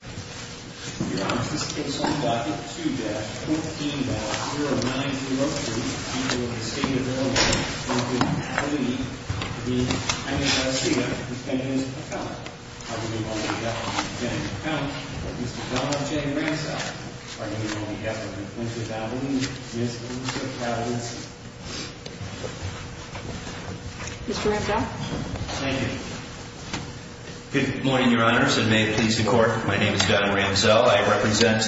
2-14-0903 for the state of Illinois, located in Catalina, to the Hennessey defendant's account. I would like to welcome the defendant to the count, Mr. Donald J. Ramsell. Pardon me, Your Honor, Mr. Ramsell? Thank you. Good morning, Your Honors, and may it please the Court, my name is Donald Ramsell. I represent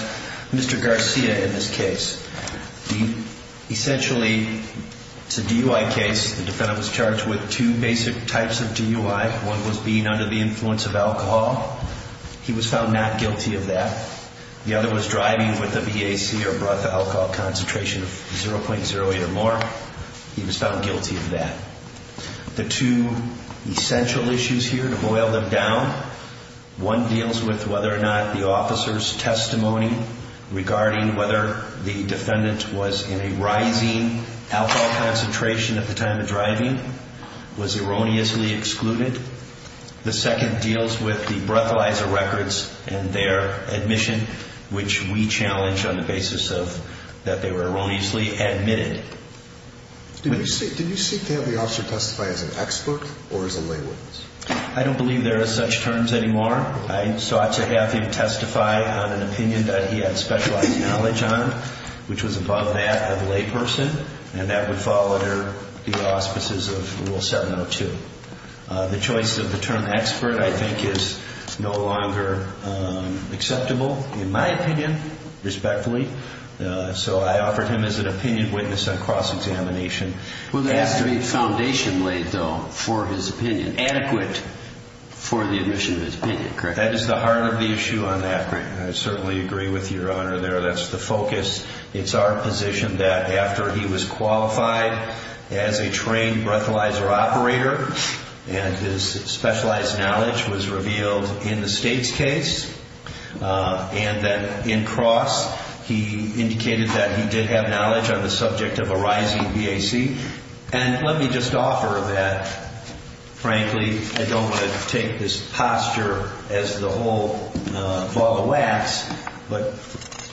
Mr. Garcia in this case. Essentially, it's a DUI case. The defendant was charged with two basic types of DUI. One was being under the influence of alcohol. He was found not guilty of that. The other was driving with a VAC or brought the alcohol concentration of 0.08 or more. He was found guilty of that. The two essential issues here, to boil them down, one deals with whether or not the officer's testimony regarding whether the defendant was in a rising alcohol concentration at the time of driving was erroneously excluded. The second deals with the breathalyzer records and their admission, which we challenge on the basis that they were erroneously admitted. Did you seek to have the officer testify as an expert or as a lay witness? I don't believe there are such terms anymore. I sought to have him testify on an opinion that he had specialized knowledge on, which was above that of a lay person, and that would fall under the auspices of Rule 702. The choice of the term expert, I think, is no longer acceptable, in my opinion, respectfully. So I offered him as an opinion witness on cross-examination. Well, there is a great foundation laid, though, for his opinion, adequate for the admission of his opinion, correct? That is the heart of the issue on that. I certainly agree with your Honor there. That's the focus. It's our position that after he was qualified as a trained breathalyzer operator, and his specialized knowledge was revealed in the States case, and that in cross, he indicated that he did have knowledge on the subject of a rising BAC. And let me just offer that, frankly, I don't want to take this posture as the whole ball of wax, but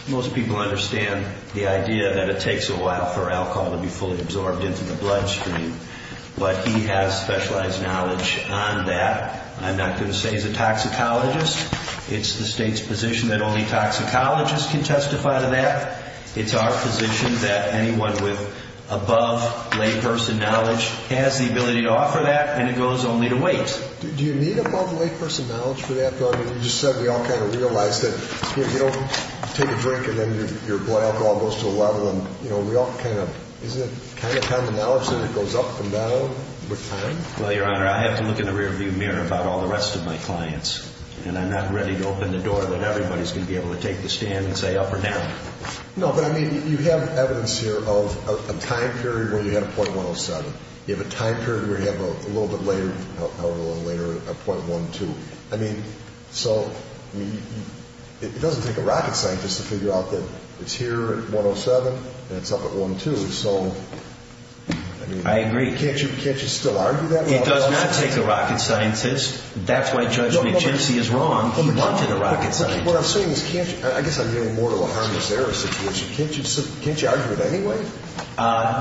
most people understand the idea that it takes a while for alcohol to be fully absorbed into the bloodstream. But he has specialized knowledge on that. I'm not going to say he's a toxicologist. It's the State's position that only toxicologists can testify to that. It's our position that anyone with above layperson knowledge has the ability to offer that, and it goes only to wait. Do you need above layperson knowledge for that, though? I mean, you just said we all kind of realize that you don't take a drink and then your blood alcohol goes to a level, and we all kind of, isn't it kind of common knowledge that it goes up and down with time? Well, Your Honor, I have to look in the rearview mirror about all the rest of my clients, and I'm not ready to open the door that everybody's going to be able to take the stand and say up or down. No, but I mean, you have evidence here of a time period where you had a .107. You have a time period where you have a little bit later, a little later, a .12. I mean, so it doesn't take a rocket scientist to figure out that it's here at .107 and it's up at .12. I agree. Can't you still argue that? It does not take a rocket scientist. That's why Judge McGenesee is wrong. He wanted a rocket scientist. What I'm saying is, I guess I'm getting more to a harmless error situation. Can't you argue it anyway?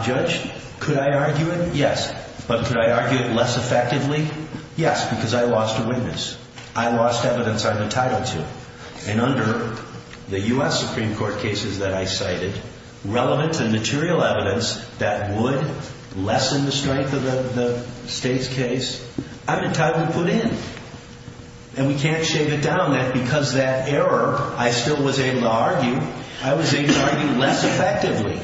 Judge, could I argue it? Yes. But could I argue it less effectively? Yes, because I lost a witness. I lost evidence I'm entitled to. And under the U.S. Supreme Court cases that I cited, relevant and material evidence that would lessen the strength of the state's case, I'm entitled to put in. And we can't shave it down, that because that error, I still was able to argue. I was able to argue less effectively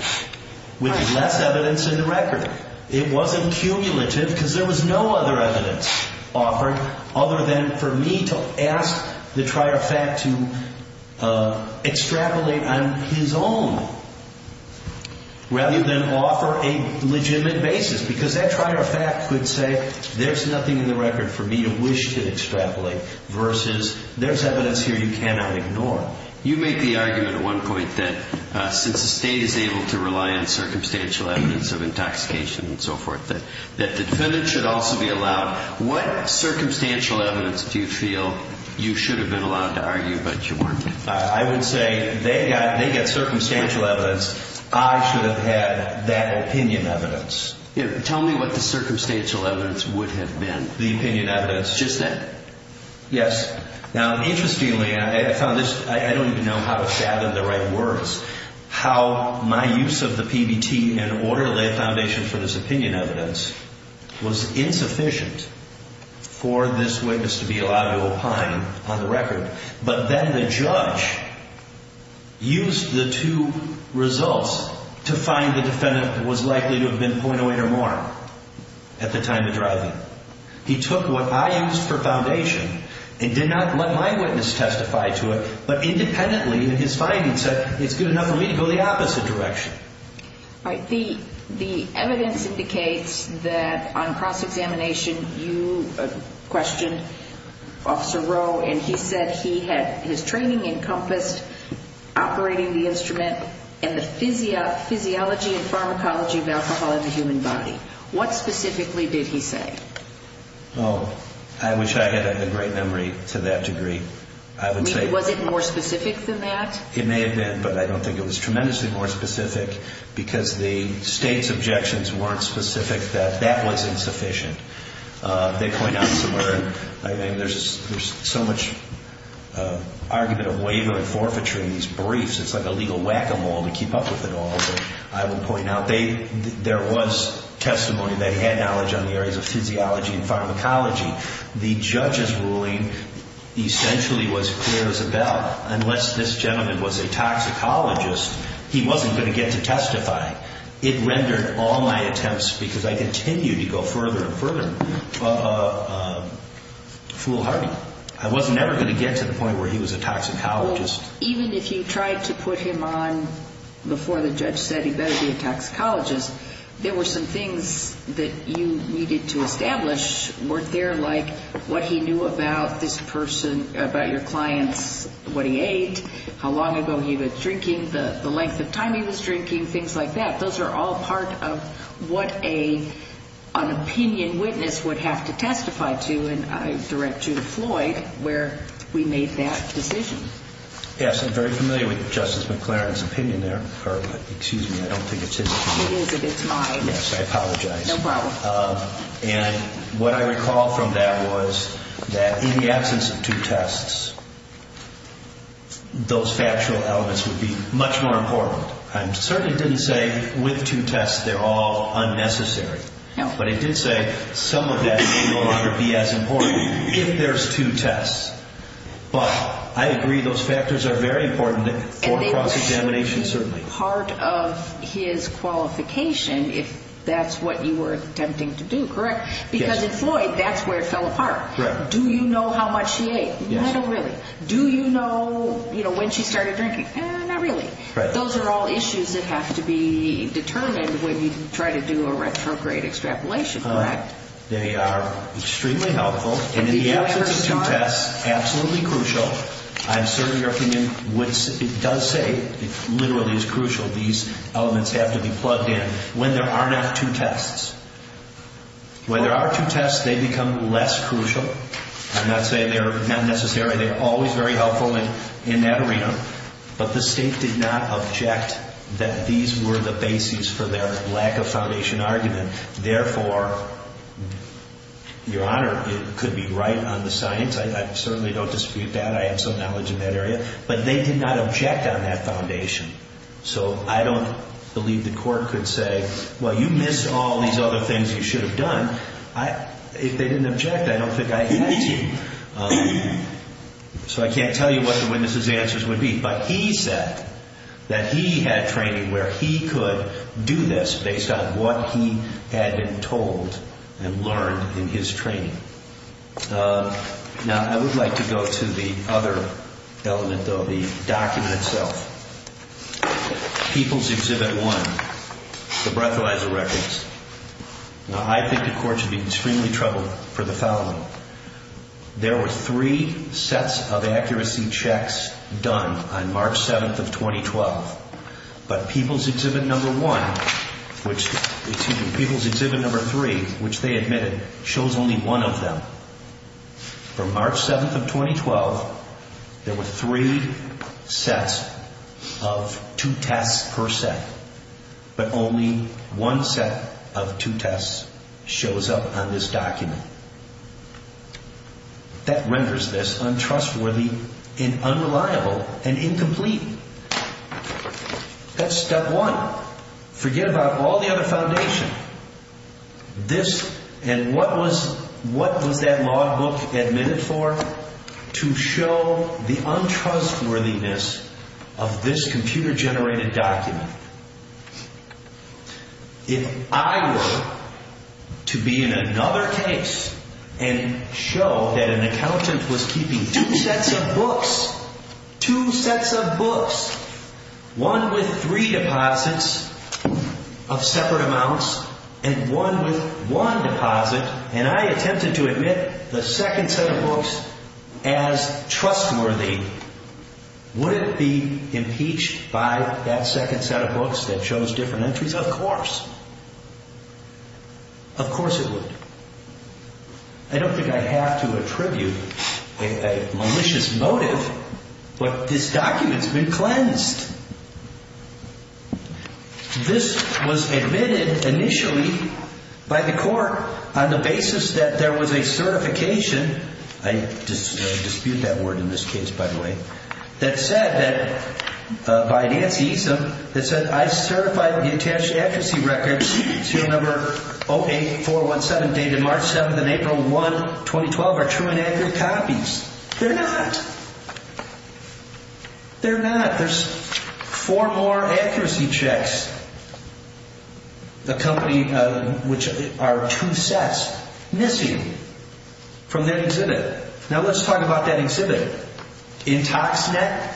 with less evidence in the record. It wasn't cumulative because there was no other evidence offered other than for me to ask the trier of fact to extrapolate on his own, rather than offer a legitimate basis, because that trier of fact could say, there's nothing in the record for me to wish to extrapolate, versus there's evidence here you cannot ignore. You make the argument at one point that since the state is able to rely on circumstantial evidence of intoxication and so forth, that the defendant should also be allowed. What circumstantial evidence do you feel you should have been allowed to argue but you weren't? I would say they get circumstantial evidence. I should have had that opinion evidence. Tell me what the circumstantial evidence would have been. The opinion evidence. Just that. Yes. Now, interestingly, I found this, I don't even know how to fathom the right words, how my use of the PBT and orderly foundation for this opinion evidence was insufficient for this witness to be allowed to opine on the record. But then the judge used the two results to find the defendant was likely to have been .08 or more at the time of driving. He took what I used for foundation and did not let my witness testify to it, but independently in his findings said it's good enough for me to go the opposite direction. All right. The evidence indicates that on cross-examination you questioned Officer Rowe and he said he had his training encompassed operating the instrument and the physiology and pharmacology of alcohol in the human body. What specifically did he say? Oh, I wish I had a great memory to that degree. Was it more specific than that? It may have been, but I don't think it was tremendously more specific because the state's objections weren't specific that that was insufficient. They point out somewhere, I mean, there's so much argument of waiver and forfeiture in these briefs, it's like a legal whack-a-mole to keep up with it all, but I would point out there was testimony, they had knowledge on the areas of physiology and pharmacology. The judge's ruling essentially was clear as a bell. Unless this gentleman was a toxicologist, he wasn't going to get to testify. It rendered all my attempts, because I continued to go further and further, foolhardy. I was never going to get to the point where he was a toxicologist. Even if you tried to put him on before the judge said he better be a toxicologist, there were some things that you needed to establish. Weren't there, like, what he knew about this person, about your clients, what he ate, how long ago he was drinking, the length of time he was drinking, things like that? Those are all part of what an opinion witness would have to testify to, and I direct you to Floyd where we made that decision. Yes, I'm very familiar with Justice McLaren's opinion there. Excuse me, I don't think it's his opinion. It is, but it's mine. Yes, I apologize. No problem. And what I recall from that was that in the absence of two tests, those factual elements would be much more important. I certainly didn't say with two tests they're all unnecessary. No. But I did say some of that may no longer be as important if there's two tests. But I agree those factors are very important for cross-examination, certainly. And it would be part of his qualification if that's what you were attempting to do, correct? Yes. Because in Floyd, that's where it fell apart. Correct. Do you know how much he ate? Yes. Not really. Do you know when she started drinking? Not really. Correct. Those are all issues that have to be determined when you try to do a retrograde extrapolation, correct? They are extremely helpful, and in the absence of two tests, absolutely crucial. I'm certain your opinion does say it literally is crucial. These elements have to be plugged in when there are not two tests. When there are two tests, they become less crucial. I'm not saying they're not necessary. They're always very helpful in that arena. But the State did not object that these were the basis for their lack of foundation argument. Therefore, Your Honor, it could be right on the science. I certainly don't dispute that. I have some knowledge in that area. But they did not object on that foundation. So I don't believe the court could say, well, you missed all these other things you should have done. If they didn't object, I don't think I had to. So I can't tell you what the witness's answers would be. But he said that he had training where he could do this based on what he had been told and learned in his training. Now, I would like to go to the other element, though, the document itself. People's Exhibit 1, the breathalyzer records. Now, I think the court should be extremely troubled for the following. There were three sets of accuracy checks done on March 7th of 2012. But People's Exhibit 3, which they admitted, shows only one of them. For March 7th of 2012, there were three sets of two tests per set. But only one set of two tests shows up on this document. That renders this untrustworthy and unreliable and incomplete. That's step one. Forget about all the other foundation. And what was that law book admitted for? To show the untrustworthiness of this computer-generated document. If I were to be in another case and show that an accountant was keeping two sets of books, two sets of books, one with three deposits of separate amounts and one with one deposit, and I attempted to admit the second set of books as trustworthy, would it be impeached by that second set of books that shows different entries? Of course. Of course it would. I don't think I have to attribute a malicious motive. But this document's been cleansed. This was admitted initially by the court on the basis that there was a certification. I dispute that word in this case, by the way. That said that, by Nancy, that said, I certified the attached accuracy records, serial number 08417, dated March 7th and April 1, 2012, are true and accurate copies. They're not. They're not. There's four more accuracy checks. The company which are two sets missing from that exhibit. Now, let's talk about that exhibit. IntoxNet.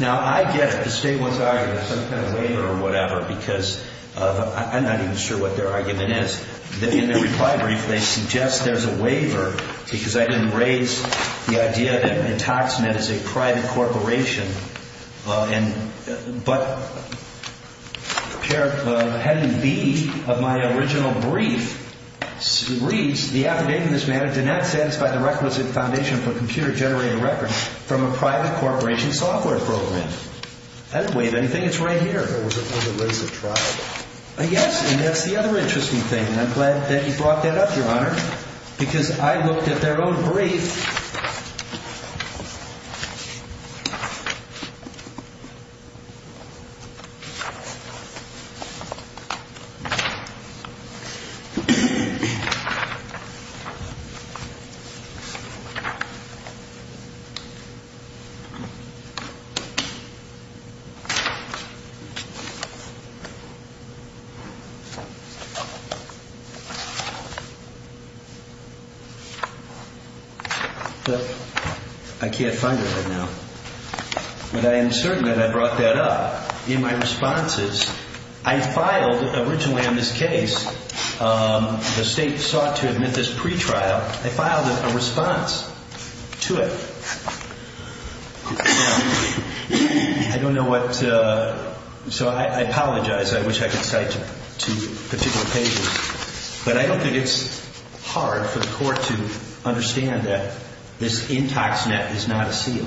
Now, I get it. The State wants to argue there's some kind of waiver or whatever because I'm not even sure what their argument is. In their reply brief, they suggest there's a waiver because I didn't raise the idea that IntoxNet is a private corporation. But heading B of my original brief reads, the affidavit in this matter did not satisfy the requisite foundation for computer-generated records from a private corporation software program. I didn't waive anything. It's right here. Or was it raised at trial? Yes. And that's the other interesting thing. And I'm glad that you brought that up, Your Honor, because I looked at their own brief. But I can't find it right now. But I am certain that I brought that up in my responses. I filed originally on this case, the State sought to admit this pretrial. I filed a response to it. I don't know what to so I apologize. I wish I could cite two particular pages. But I don't think it's hard for the Court to understand that this IntoxNet is not a seal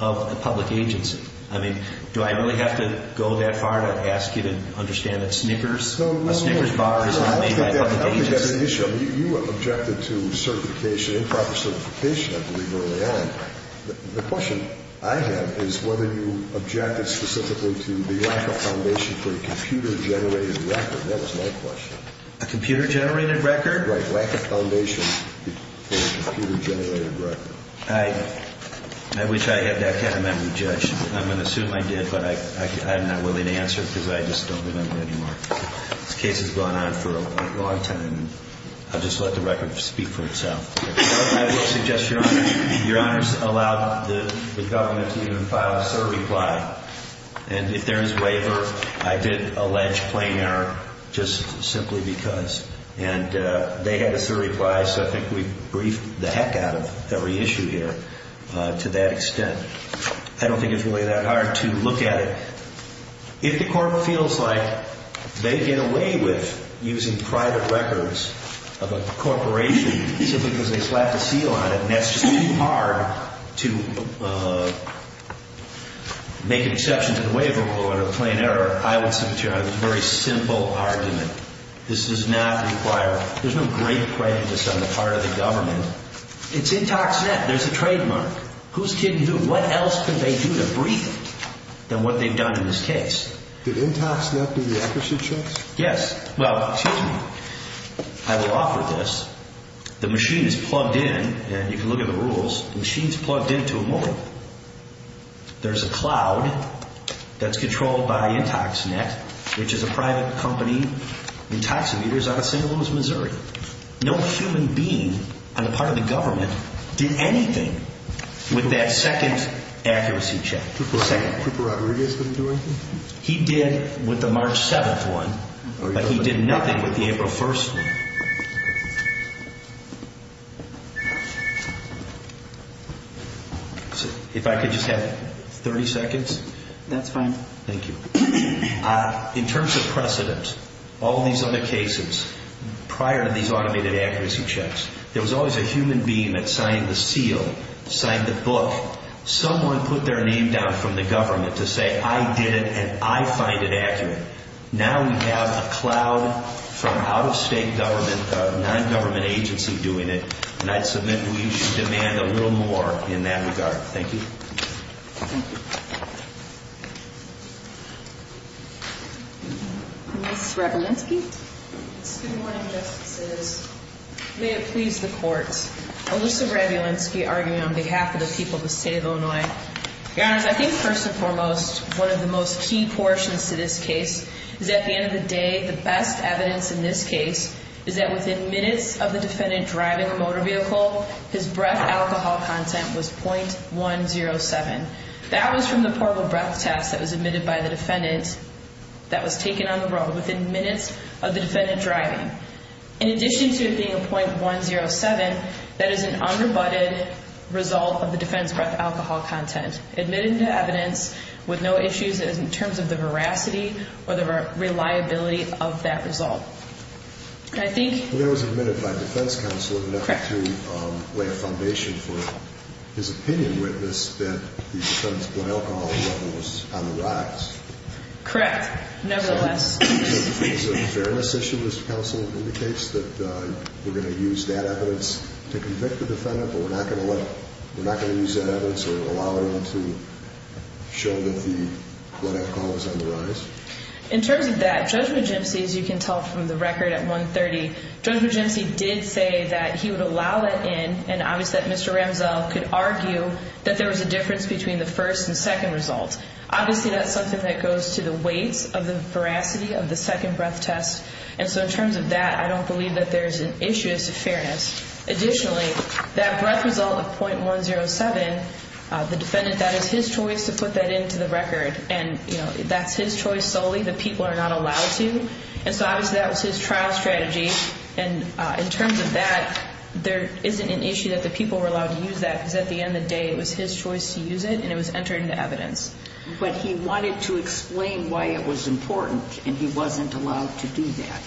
of a public agency. I mean, do I really have to go that far to ask you to understand that Snickers, a Snickers bar is not made by a public agency? I think that's an issue. You objected to certification, improper certification, I believe, early on. The question I have is whether you objected specifically to the lack of foundation for a computer-generated record. That was my question. A computer-generated record? Right. Lack of foundation for a computer-generated record. I wish I had that kind of memory, Judge. I'm going to assume I did, but I'm not willing to answer because I just don't remember anymore. This case has gone on for a long time. I'll just let the record speak for itself. I will suggest, Your Honor, Your Honor's allowed the government to even file a third reply. And if there is waiver, I did allege plain error just simply because. And they had a third reply, so I think we've briefed the heck out of every issue here to that extent. I don't think it's really that hard to look at it. If the court feels like they get away with using private records of a corporation simply because they slapped a seal on it and that's just too hard to make an exception to the waiver or plain error, I would say, Your Honor, it's a very simple argument. This does not require – there's no great prejudice on the part of the government. It's in ToxNet. There's a trademark. Who's kidding who? What else can they do to brief them than what they've done in this case? Did IntoxNet do the accuracy checks? Yes. Well, excuse me. I will offer this. The machine is plugged in, and you can look at the rules. The machine's plugged in to a motor. There's a cloud that's controlled by IntoxNet, which is a private company. Intoximeter's out of St. Louis, Missouri. No human being on the part of the government did anything with that second accuracy check. Cooper Rodriguez didn't do anything? He did with the March 7th one, but he did nothing with the April 1st one. If I could just have 30 seconds. That's fine. Thank you. In terms of precedent, all these other cases, prior to these automated accuracy checks, there was always a human being that signed the seal, signed the book. Someone put their name down from the government to say, I did it, and I find it accurate. Now we have a cloud from out-of-state government, a nongovernment agency doing it, and I'd submit we should demand a little more in that regard. Thank you. Ms. Rabulinski? Good morning, Justices. May it please the Court, Alyssa Rabulinski arguing on behalf of the people of the State of Illinois. Your Honors, I think first and foremost, one of the most key portions to this case is that at the end of the day, the best evidence in this case is that within minutes of the defendant driving a motor vehicle, his breath alcohol content was .107. That was from the portable breath test that was admitted by the defendant that was taken on the road within minutes of the defendant driving. In addition to it being a .107, that is an under-butted result of the defendant's breath alcohol content admitted into evidence with no issues in terms of the veracity or the reliability of that result. I think... That was admitted by defense counsel in an effort to lay a foundation for his opinion witness that the defendant's breath alcohol level was on the rise. Correct, nevertheless. So is it a fairness issue, Mr. Counsel, in the case that we're going to use that evidence to convict the defendant but we're not going to let, we're not going to use that evidence or allow it in to show that the breath alcohol was on the rise? In terms of that, Judge Magimsi, as you can tell from the record at 1.30, Judge Magimsi did say that he would allow that in and obviously that Mr. Ramsell could argue that there was a difference between the first and second results. Obviously that's something that goes to the weights of the veracity of the second breath test and so in terms of that, I don't believe that there's an issue as to fairness. Additionally, that breath result of .107, the defendant, that is his choice to put that into the record and that's his choice solely, the people are not allowed to, and so obviously that was his trial strategy and in terms of that, there isn't an issue that the people were allowed to use that because at the end of the day it was his choice to use it and it was entered into evidence. But he wanted to explain why it was important and he wasn't allowed to do that.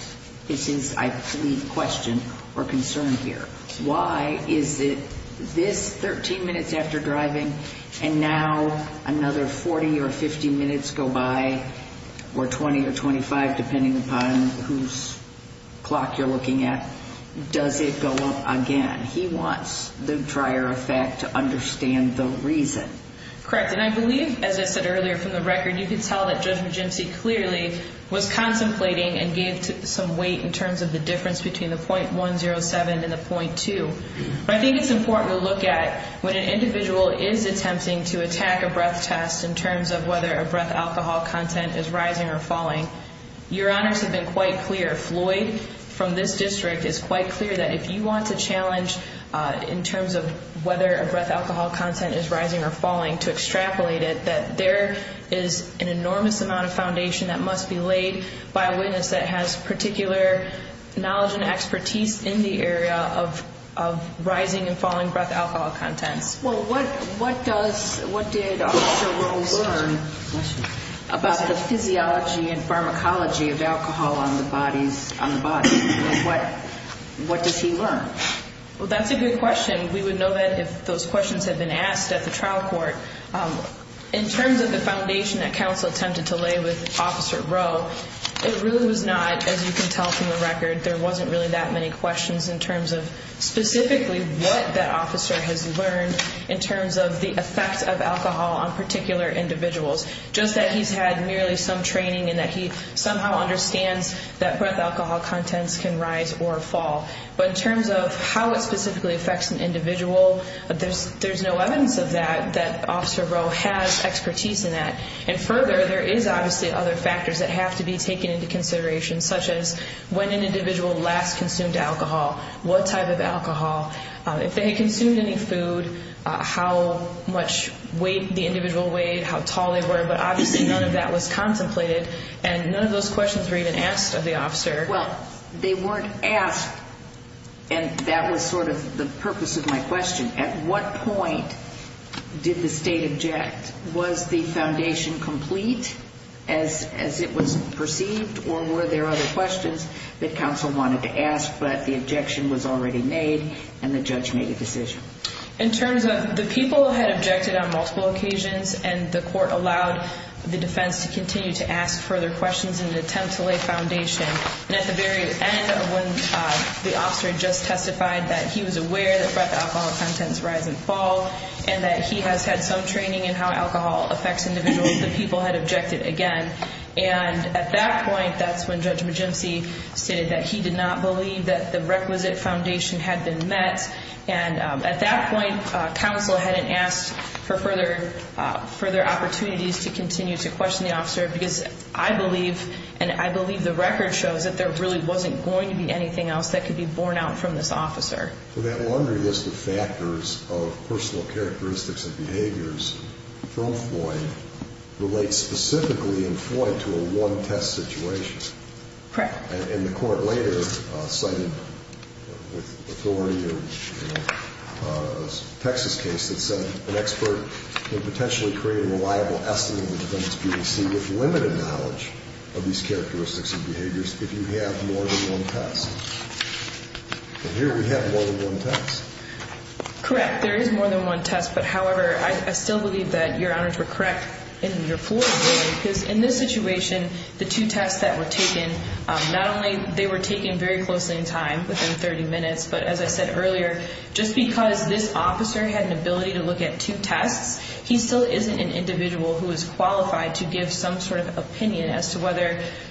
This is, I believe, a question or concern here. Why is it this 13 minutes after driving and now another 40 or 50 minutes go by or 20 or 25 depending upon whose clock you're looking at, does it go up again? He wants the drier effect to understand the reason. Correct, and I believe, as I said earlier from the record, you could tell that Judge Magimsi clearly was contemplating and gave some weight in terms of the difference between the .107 and the .2. But I think it's important to look at when an individual is attempting to attack a breath test in terms of whether a breath alcohol content is rising or falling. Your Honors have been quite clear. Floyd from this district is quite clear that if you want to challenge in terms of whether a breath alcohol content is rising or falling to extrapolate it, that there is an enormous amount of foundation that must be laid by a witness that has particular knowledge and expertise in the area of rising and falling breath alcohol contents. Well, what did Officer Rowe learn about the physiology and pharmacology of alcohol on the body? What does he learn? Well, that's a good question. We would know that if those questions had been asked at the trial court. In terms of the foundation that counsel attempted to lay with Officer Rowe, it really was not, as you can tell from the record, there wasn't really that many questions in terms of specifically what that officer has learned in terms of the effects of alcohol on particular individuals, just that he's had merely some training and that he somehow understands that breath alcohol contents can rise or fall. But in terms of how it specifically affects an individual, there's no evidence of that that Officer Rowe has expertise in that. And further, there is obviously other factors that have to be taken into consideration, such as when an individual last consumed alcohol, what type of alcohol, if they had consumed any food, how much weight the individual weighed, how tall they were. But obviously none of that was contemplated, and none of those questions were even asked of the officer. Well, they weren't asked, and that was sort of the purpose of my question. At what point did the state object? Was the foundation complete as it was perceived, or were there other questions that counsel wanted to ask but the objection was already made and the judge made a decision? In terms of the people had objected on multiple occasions, and the court allowed the defense to continue to ask further questions in an attempt to lay foundation. And at the very end, when the officer had just testified that he was aware that breath alcohol contents rise and fall, and that he has had some training in how alcohol affects individuals, the people had objected again. And at that point, that's when Judge Magimsi stated that he did not believe that the requisite foundation had been met. And at that point, counsel hadn't asked for further opportunities to continue to question the officer because I believe, and I believe the record shows, that there really wasn't going to be anything else that could be borne out from this officer. And the court later cited with authority a Texas case that said an expert could potentially create a reliable estimate of the defendant's PBC with limited knowledge of these characteristics and behaviors if you have more than one test. And here we have more than one test. Correct. There is more than one test, but, however, I still believe that the judge I believe that your honors were correct in your floor because in this situation, the two tests that were taken, not only they were taken very closely in time, within 30 minutes, but as I said earlier, just because this officer had an ability to look at two tests, he still isn't an individual who is qualified to give some sort of opinion as to whether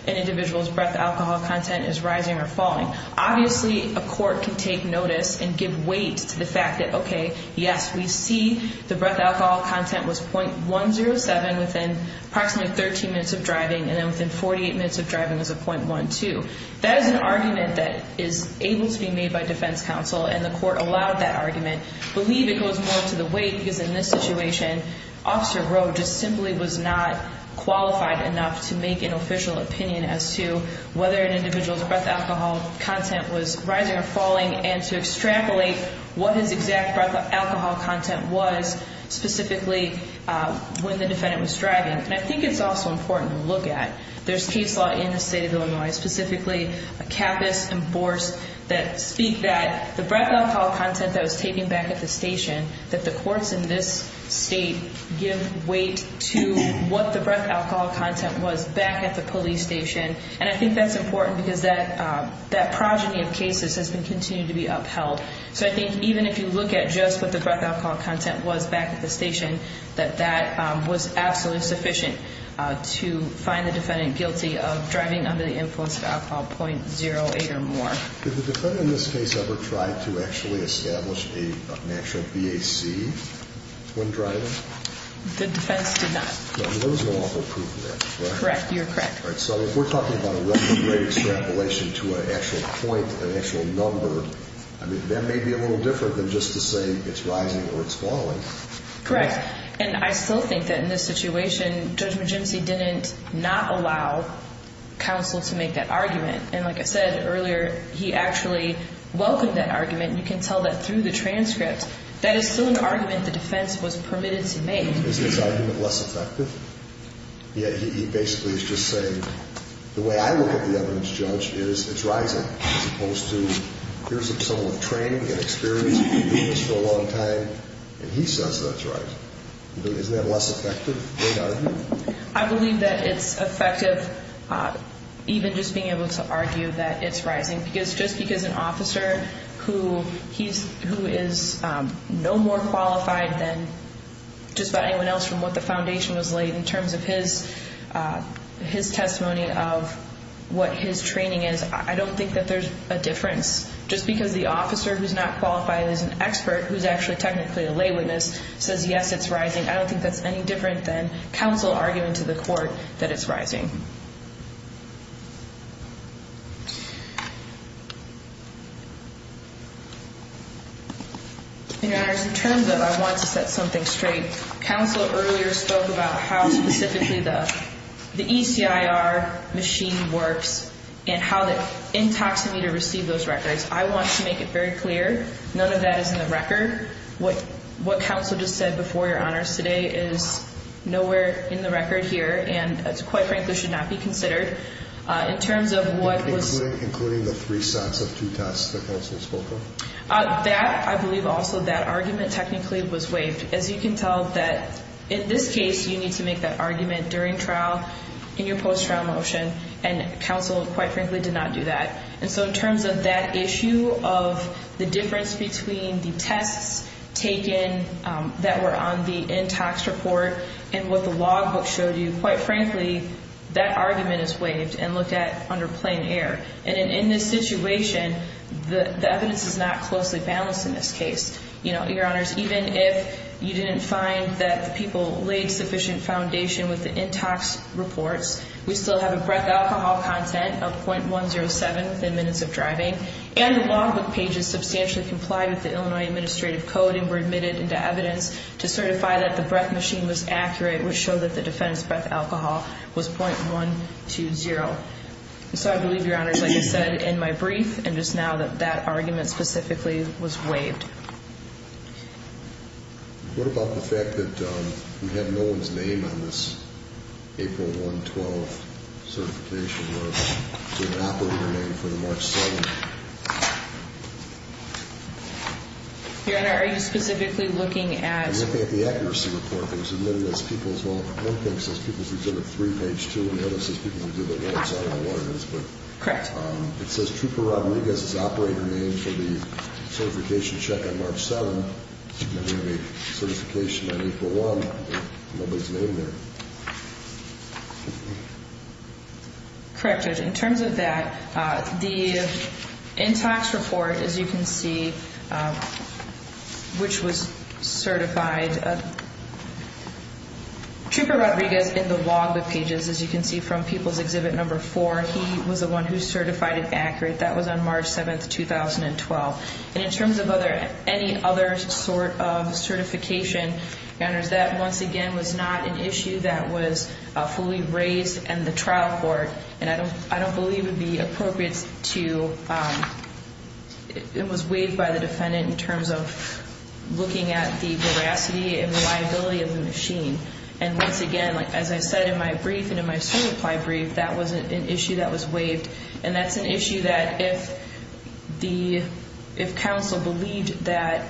an individual's breath alcohol content is rising or falling. Obviously, a court can take notice and give weight to the fact that, okay, yes, we see the breath alcohol content was .107 within approximately 13 minutes of driving and then within 48 minutes of driving it was a .12. That is an argument that is able to be made by defense counsel, and the court allowed that argument. I believe it goes more to the weight because in this situation, Officer Rowe just simply was not qualified enough to make an official opinion and to extrapolate what his exact breath alcohol content was specifically when the defendant was driving. And I think it's also important to look at. There's case law in the state of Illinois, specifically a capice enforced that speak that the breath alcohol content that was taken back at the station, that the courts in this state give weight to what the breath alcohol content was back at the police station. And I think that's important because that progeny of cases has been continuing to be upheld. So I think even if you look at just what the breath alcohol content was back at the station, that that was absolutely sufficient to find the defendant guilty of driving under the influence of alcohol .08 or more. Did the defendant in this case ever try to actually establish an actual BAC when driving? The defense did not. There was no awful proof of that, correct? Correct. You're correct. All right. So if we're talking about a record rate extrapolation to an actual point, an actual number, that may be a little different than just to say it's rising or it's falling. Correct. And I still think that in this situation, Judge Magincy didn't not allow counsel to make that argument. And like I said earlier, he actually welcomed that argument. You can tell that through the transcript. That is still an argument the defense was permitted to make. Is this argument less effective? Yeah, he basically is just saying the way I look at the evidence, Judge, is it's rising as opposed to here's someone with training and experience who's been doing this for a long time and he says that it's rising. Isn't that less effective? I believe that it's effective even just being able to argue that it's rising because just because an officer who is no more qualified than just about anyone else and what the foundation was laid in terms of his testimony of what his training is, I don't think that there's a difference. Just because the officer who's not qualified as an expert, who's actually technically a lay witness, says yes, it's rising, I don't think that's any different than counsel arguing to the court that it's rising. Your Honors, in terms of I want to set something straight, counsel earlier spoke about how specifically the ECIR machine works and how the intoxicator received those records. I want to make it very clear, none of that is in the record. What counsel just said before, Your Honors, today is nowhere in the record here and to quite frankly should be in the record. Including the three sets of two tests that counsel spoke of? That, I believe also that argument technically was waived. As you can tell that in this case you need to make that argument during trial, in your post-trial motion, and counsel quite frankly did not do that. And so in terms of that issue of the difference between the tests taken that were on the intox report and what the logbook showed you, quite frankly, that argument is waived and looked at under plain air. And in this situation, the evidence is not closely balanced in this case. Your Honors, even if you didn't find that the people laid sufficient foundation with the intox reports, we still have a breath alcohol content of .107 within minutes of driving and the logbook pages substantially complied with the Illinois Administrative Code and were admitted into evidence to certify that the breath machine was accurate, which showed that the defendant's breath alcohol was .120. And so I believe, Your Honors, like I said in my brief and just now that that argument specifically was waived. What about the fact that we had no one's name on this April 1, 2012 certification? Was it an operator name for the March 7th? Your Honor, are you specifically looking at- I'm looking at the accuracy report that was admitted as people's- one thing says people's exhibit 3, page 2, and the other says people's exhibit 1, so I don't know what it is, but- Correct. It says Trooper Rodriguez's operator name for the certification check on March 7th. You can have a certification on April 1, but nobody's name there. Correct, Judge. In terms of that, the in-tax report, as you can see, which was certified- Trooper Rodriguez in the logbook pages, as you can see from people's exhibit number 4, he was the one who certified it accurate. That was on March 7th, 2012. And in terms of any other sort of certification, Your Honors, that, once again, was not an issue that was fully raised in the trial court. And I don't believe it would be appropriate to- it was waived by the defendant in terms of looking at the veracity and reliability of the machine. And once again, as I said in my brief and in my certify brief, that was an issue that was waived. And that's an issue that if the- if counsel believed that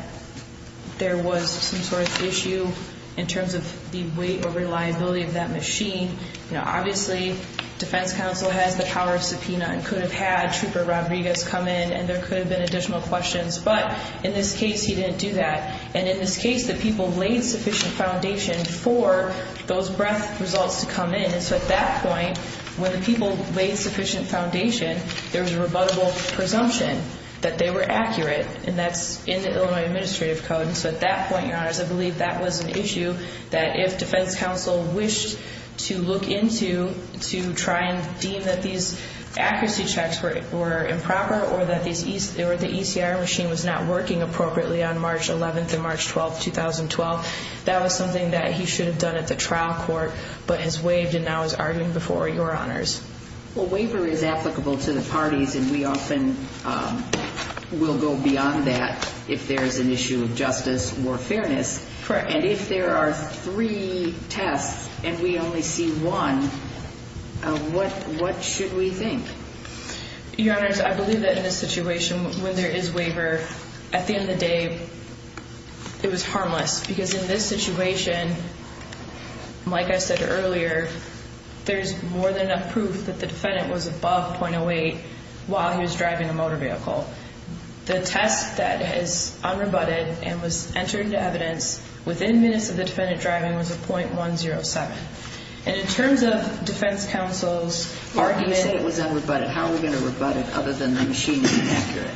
there was some sort of issue in terms of the weight or reliability of that machine, obviously, defense counsel has the power of subpoena and could have had Trooper Rodriguez come in and there could have been additional questions. But in this case, he didn't do that. And in this case, the people laid sufficient foundation for those breadth results to come in. And so at that point, when the people laid sufficient foundation, there was a rebuttable presumption that they were accurate. And that's in the Illinois Administrative Code. And so at that point, Your Honors, I believe that was an issue that if defense counsel wished to look into to try and deem that these accuracy checks were improper or that the ECR machine was not working appropriately on March 11th and March 12th, 2012, that was something that he should have done at the trial court but has waived and now is arguing before Your Honors. Well, waiver is applicable to the parties and we often will go beyond that if there is an issue of justice or fairness. Correct. And if there are three tests and we only see one, what should we think? Your Honors, I believe that in this situation, when there is waiver, at the end of the day, it was harmless because in this situation, like I said earlier, there is more than enough proof that the defendant was above 0.08 while he was driving a motor vehicle. The test that is unrebutted and was entered into evidence within minutes of the defendant driving was a 0.107. And in terms of defense counsel's argument. You say it was unrebutted. How are we going to rebut it other than the machine being accurate?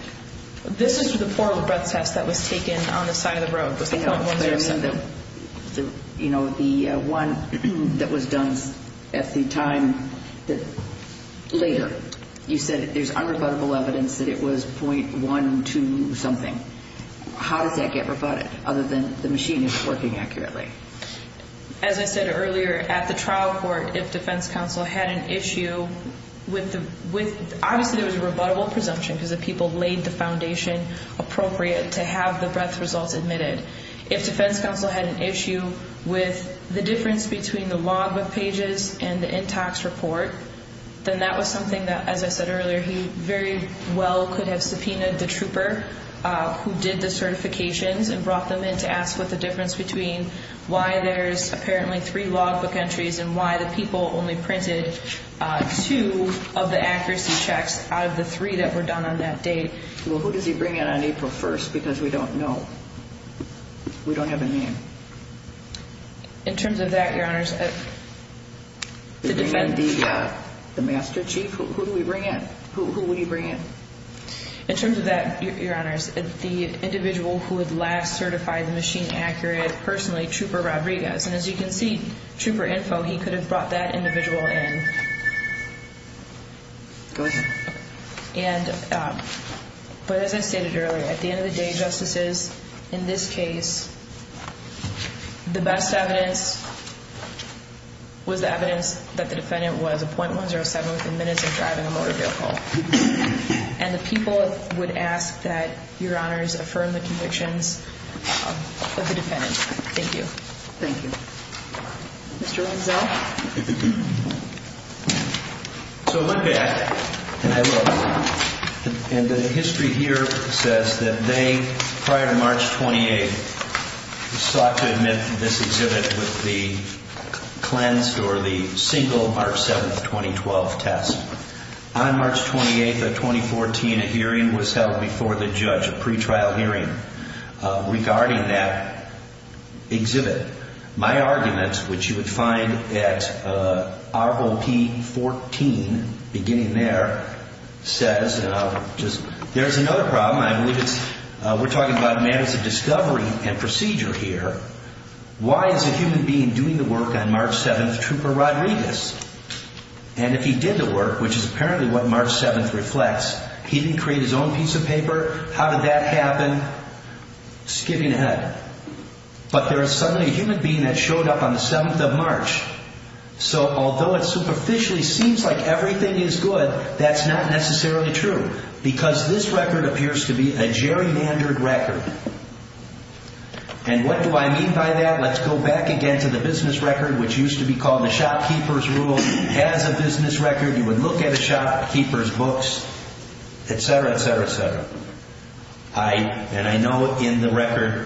This is the poor breath test that was taken on the side of the road. It was the 0.107. You know, the one that was done at the time later. You said there is unrebuttable evidence that it was 0.12 something. How does that get rebutted other than the machine is working accurately? As I said earlier, at the trial court, if defense counsel had an issue, obviously there was a rebuttable presumption because the people laid the foundation appropriate to have the breath results admitted. If defense counsel had an issue with the difference between the logbook pages and the in-tax report, then that was something that, as I said earlier, he very well could have subpoenaed the trooper who did the certifications and brought them in to ask what the difference between why there is apparently three logbook entries and why the people only printed two of the accuracy checks out of the three that were done on that date. Well, who does he bring in on April 1st? Because we don't know. We don't have a name. In terms of that, Your Honors, the defense... The master chief? Who do we bring in? Who would he bring in? In terms of that, Your Honors, the individual who would last certify the machine accurate, personally, Trooper Rodriguez. And as you can see, Trooper Info, he could have brought that individual in. Go ahead. But as I stated earlier, at the end of the day, Justices, in this case, the best evidence was the evidence that the defendant was a .107 within minutes of driving a motor vehicle. And the people would ask that Your Honors affirm the convictions of the defendant. Thank you. Thank you. Mr. Lenzel? So look at, and I will, and the history here says that they, prior to March 28th, sought to admit to this exhibit with the cleansed or the single March 7th, 2012 test. On March 28th of 2014, a hearing was held before the judge, a pretrial hearing. Regarding that exhibit, my argument, which you would find at ROP 14, beginning there, says, there's another problem, I believe it's, we're talking about matters of discovery and procedure here. Why is a human being doing the work on March 7th, Trooper Rodriguez? And if he did the work, which is apparently what March 7th reflects, he didn't create his own piece of paper? How did that happen? Skipping ahead. But there is suddenly a human being that showed up on the 7th of March. So although it superficially seems like everything is good, that's not necessarily true. Because this record appears to be a gerrymandered record. And what do I mean by that? Let's go back again to the business record, which used to be called the shopkeeper's rule. As a business record, you would look at a shopkeeper's books, et cetera, et cetera, et cetera. And I know in the record,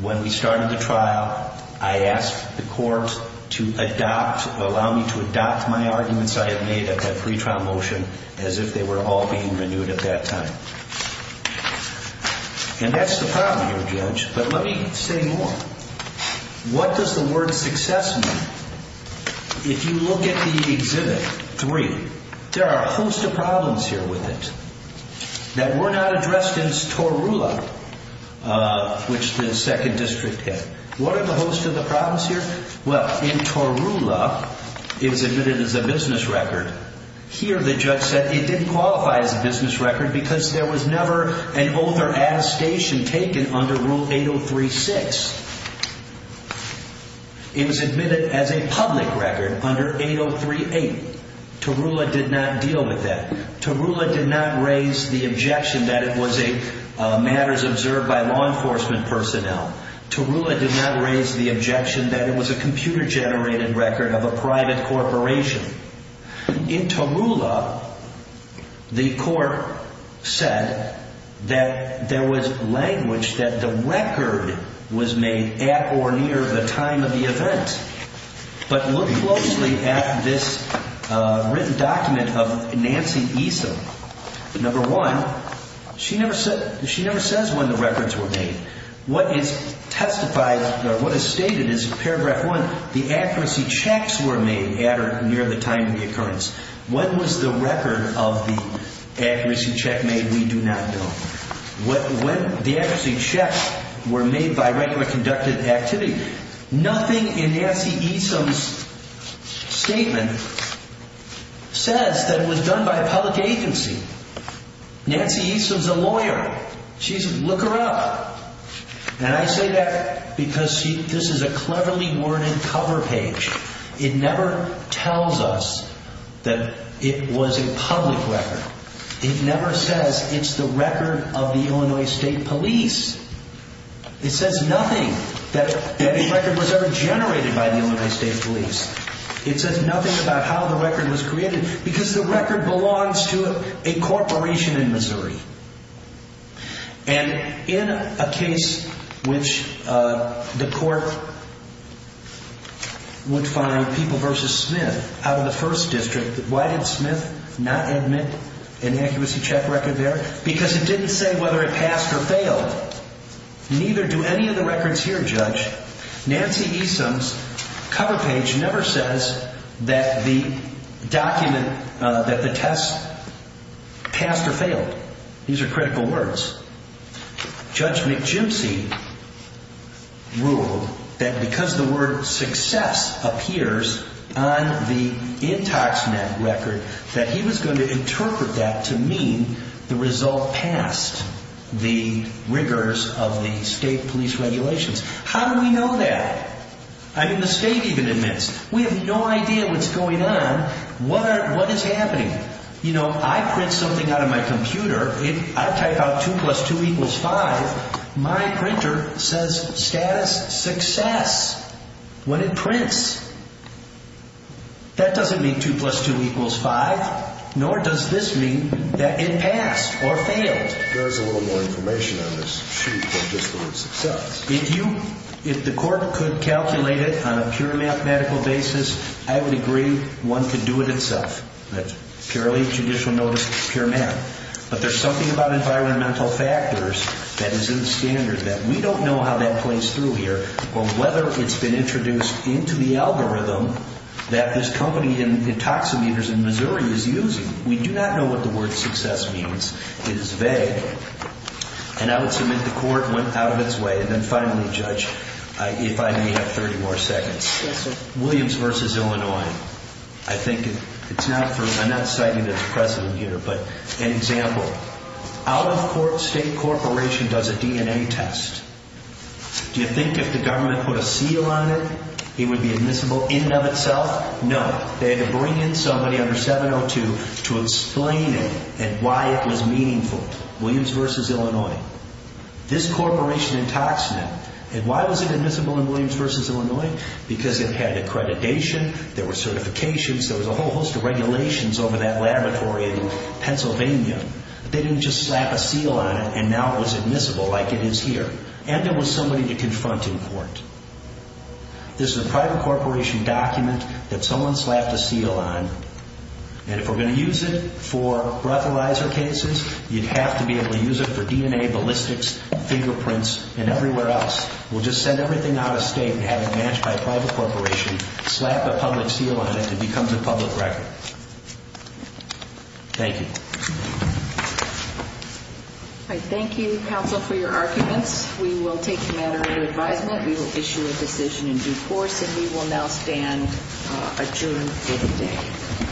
when we started the trial, I asked the court to adopt, allow me to adopt my arguments I had made at that pretrial motion as if they were all being renewed at that time. And that's the problem here, Judge. But let me say more. What does the word success mean? If you look at the Exhibit 3, there are a host of problems here with it that were not addressed in TORULA, which the Second District hit. What are the host of the problems here? Well, in TORULA, it was admitted as a business record. Here, the judge said it didn't qualify as a business record because there was never an oath or attestation taken under Rule 803-6. It was admitted as a public record under 803-8. TORULA did not deal with that. TORULA did not raise the objection that it was a matters observed by law enforcement personnel. TORULA did not raise the objection that it was a computer-generated record of a private corporation. In TORULA, the court said that there was language that the record was made at or near the time of the event. But look closely at this written document of Nancy Eason. Number one, she never says when the records were made. What is stated is, paragraph one, the accuracy checks were made at or near the time of the occurrence. When was the record of the accuracy check made? We do not know. The accuracy checks were made by regular conducted activity. Nothing in Nancy Eason's statement says that it was done by a public agency. Nancy Eason's a lawyer. She says, look her up. And I say that because this is a cleverly worded cover page. It never tells us that it was a public record. It never says it's the record of the Illinois State Police. It says nothing that the record was ever generated by the Illinois State Police. It says nothing about how the record was created because the record belongs to a corporation in Missouri. And in a case which the court would find people versus Smith out of the first district, why did Smith not admit an accuracy check record there? Because it didn't say whether it passed or failed. Nancy Eason's cover page never says that the document, that the test passed or failed. These are critical words. Judge McGypsy ruled that because the word success appears on the IntoxNet record, that he was going to interpret that to mean the result passed the rigors of the state police regulations. How do we know that? I mean, the state even admits. We have no idea what's going on. What is happening? You know, I print something out of my computer. If I type out 2 plus 2 equals 5, my printer says status success when it prints. That doesn't mean 2 plus 2 equals 5, nor does this mean that it passed or failed. There is a little more information on this sheet than just the word success. If the court could calculate it on a pure mathematical basis, I would agree one could do it itself. That's purely judicial notice, pure math. But there's something about environmental factors that is in the standard that we don't know how that plays through here, or whether it's been introduced into the algorithm that this company, Intoximeters in Missouri, is using. We do not know what the word success means. It is vague. And I would submit the court went out of its way. And then finally, Judge, if I may have 30 more seconds. Yes, sir. Williams v. Illinois. I'm not citing the president here, but an example. Out-of-court state corporation does a DNA test. Do you think if the government put a seal on it, it would be admissible in and of itself? No. They had to bring in somebody under 702 to explain it and why it was meaningful. Williams v. Illinois. This corporation, Intoximeter, and why was it admissible in Williams v. Illinois? Because it had accreditation. There were certifications. There was a whole host of regulations over that laboratory in Pennsylvania. But they didn't just slap a seal on it, and now it was admissible like it is here. And there was somebody to confront in court. This is a private corporation document that someone slapped a seal on. And if we're going to use it for breathalyzer cases, you'd have to be able to use it for DNA ballistics, fingerprints, and everywhere else. We'll just send everything out of state and have it managed by a private corporation, slap a public seal on it, and it becomes a public record. Thank you. All right, thank you, counsel, for your arguments. We will take a matter into advisement. We will issue a decision in due course. And we will now stand adjourned for the day.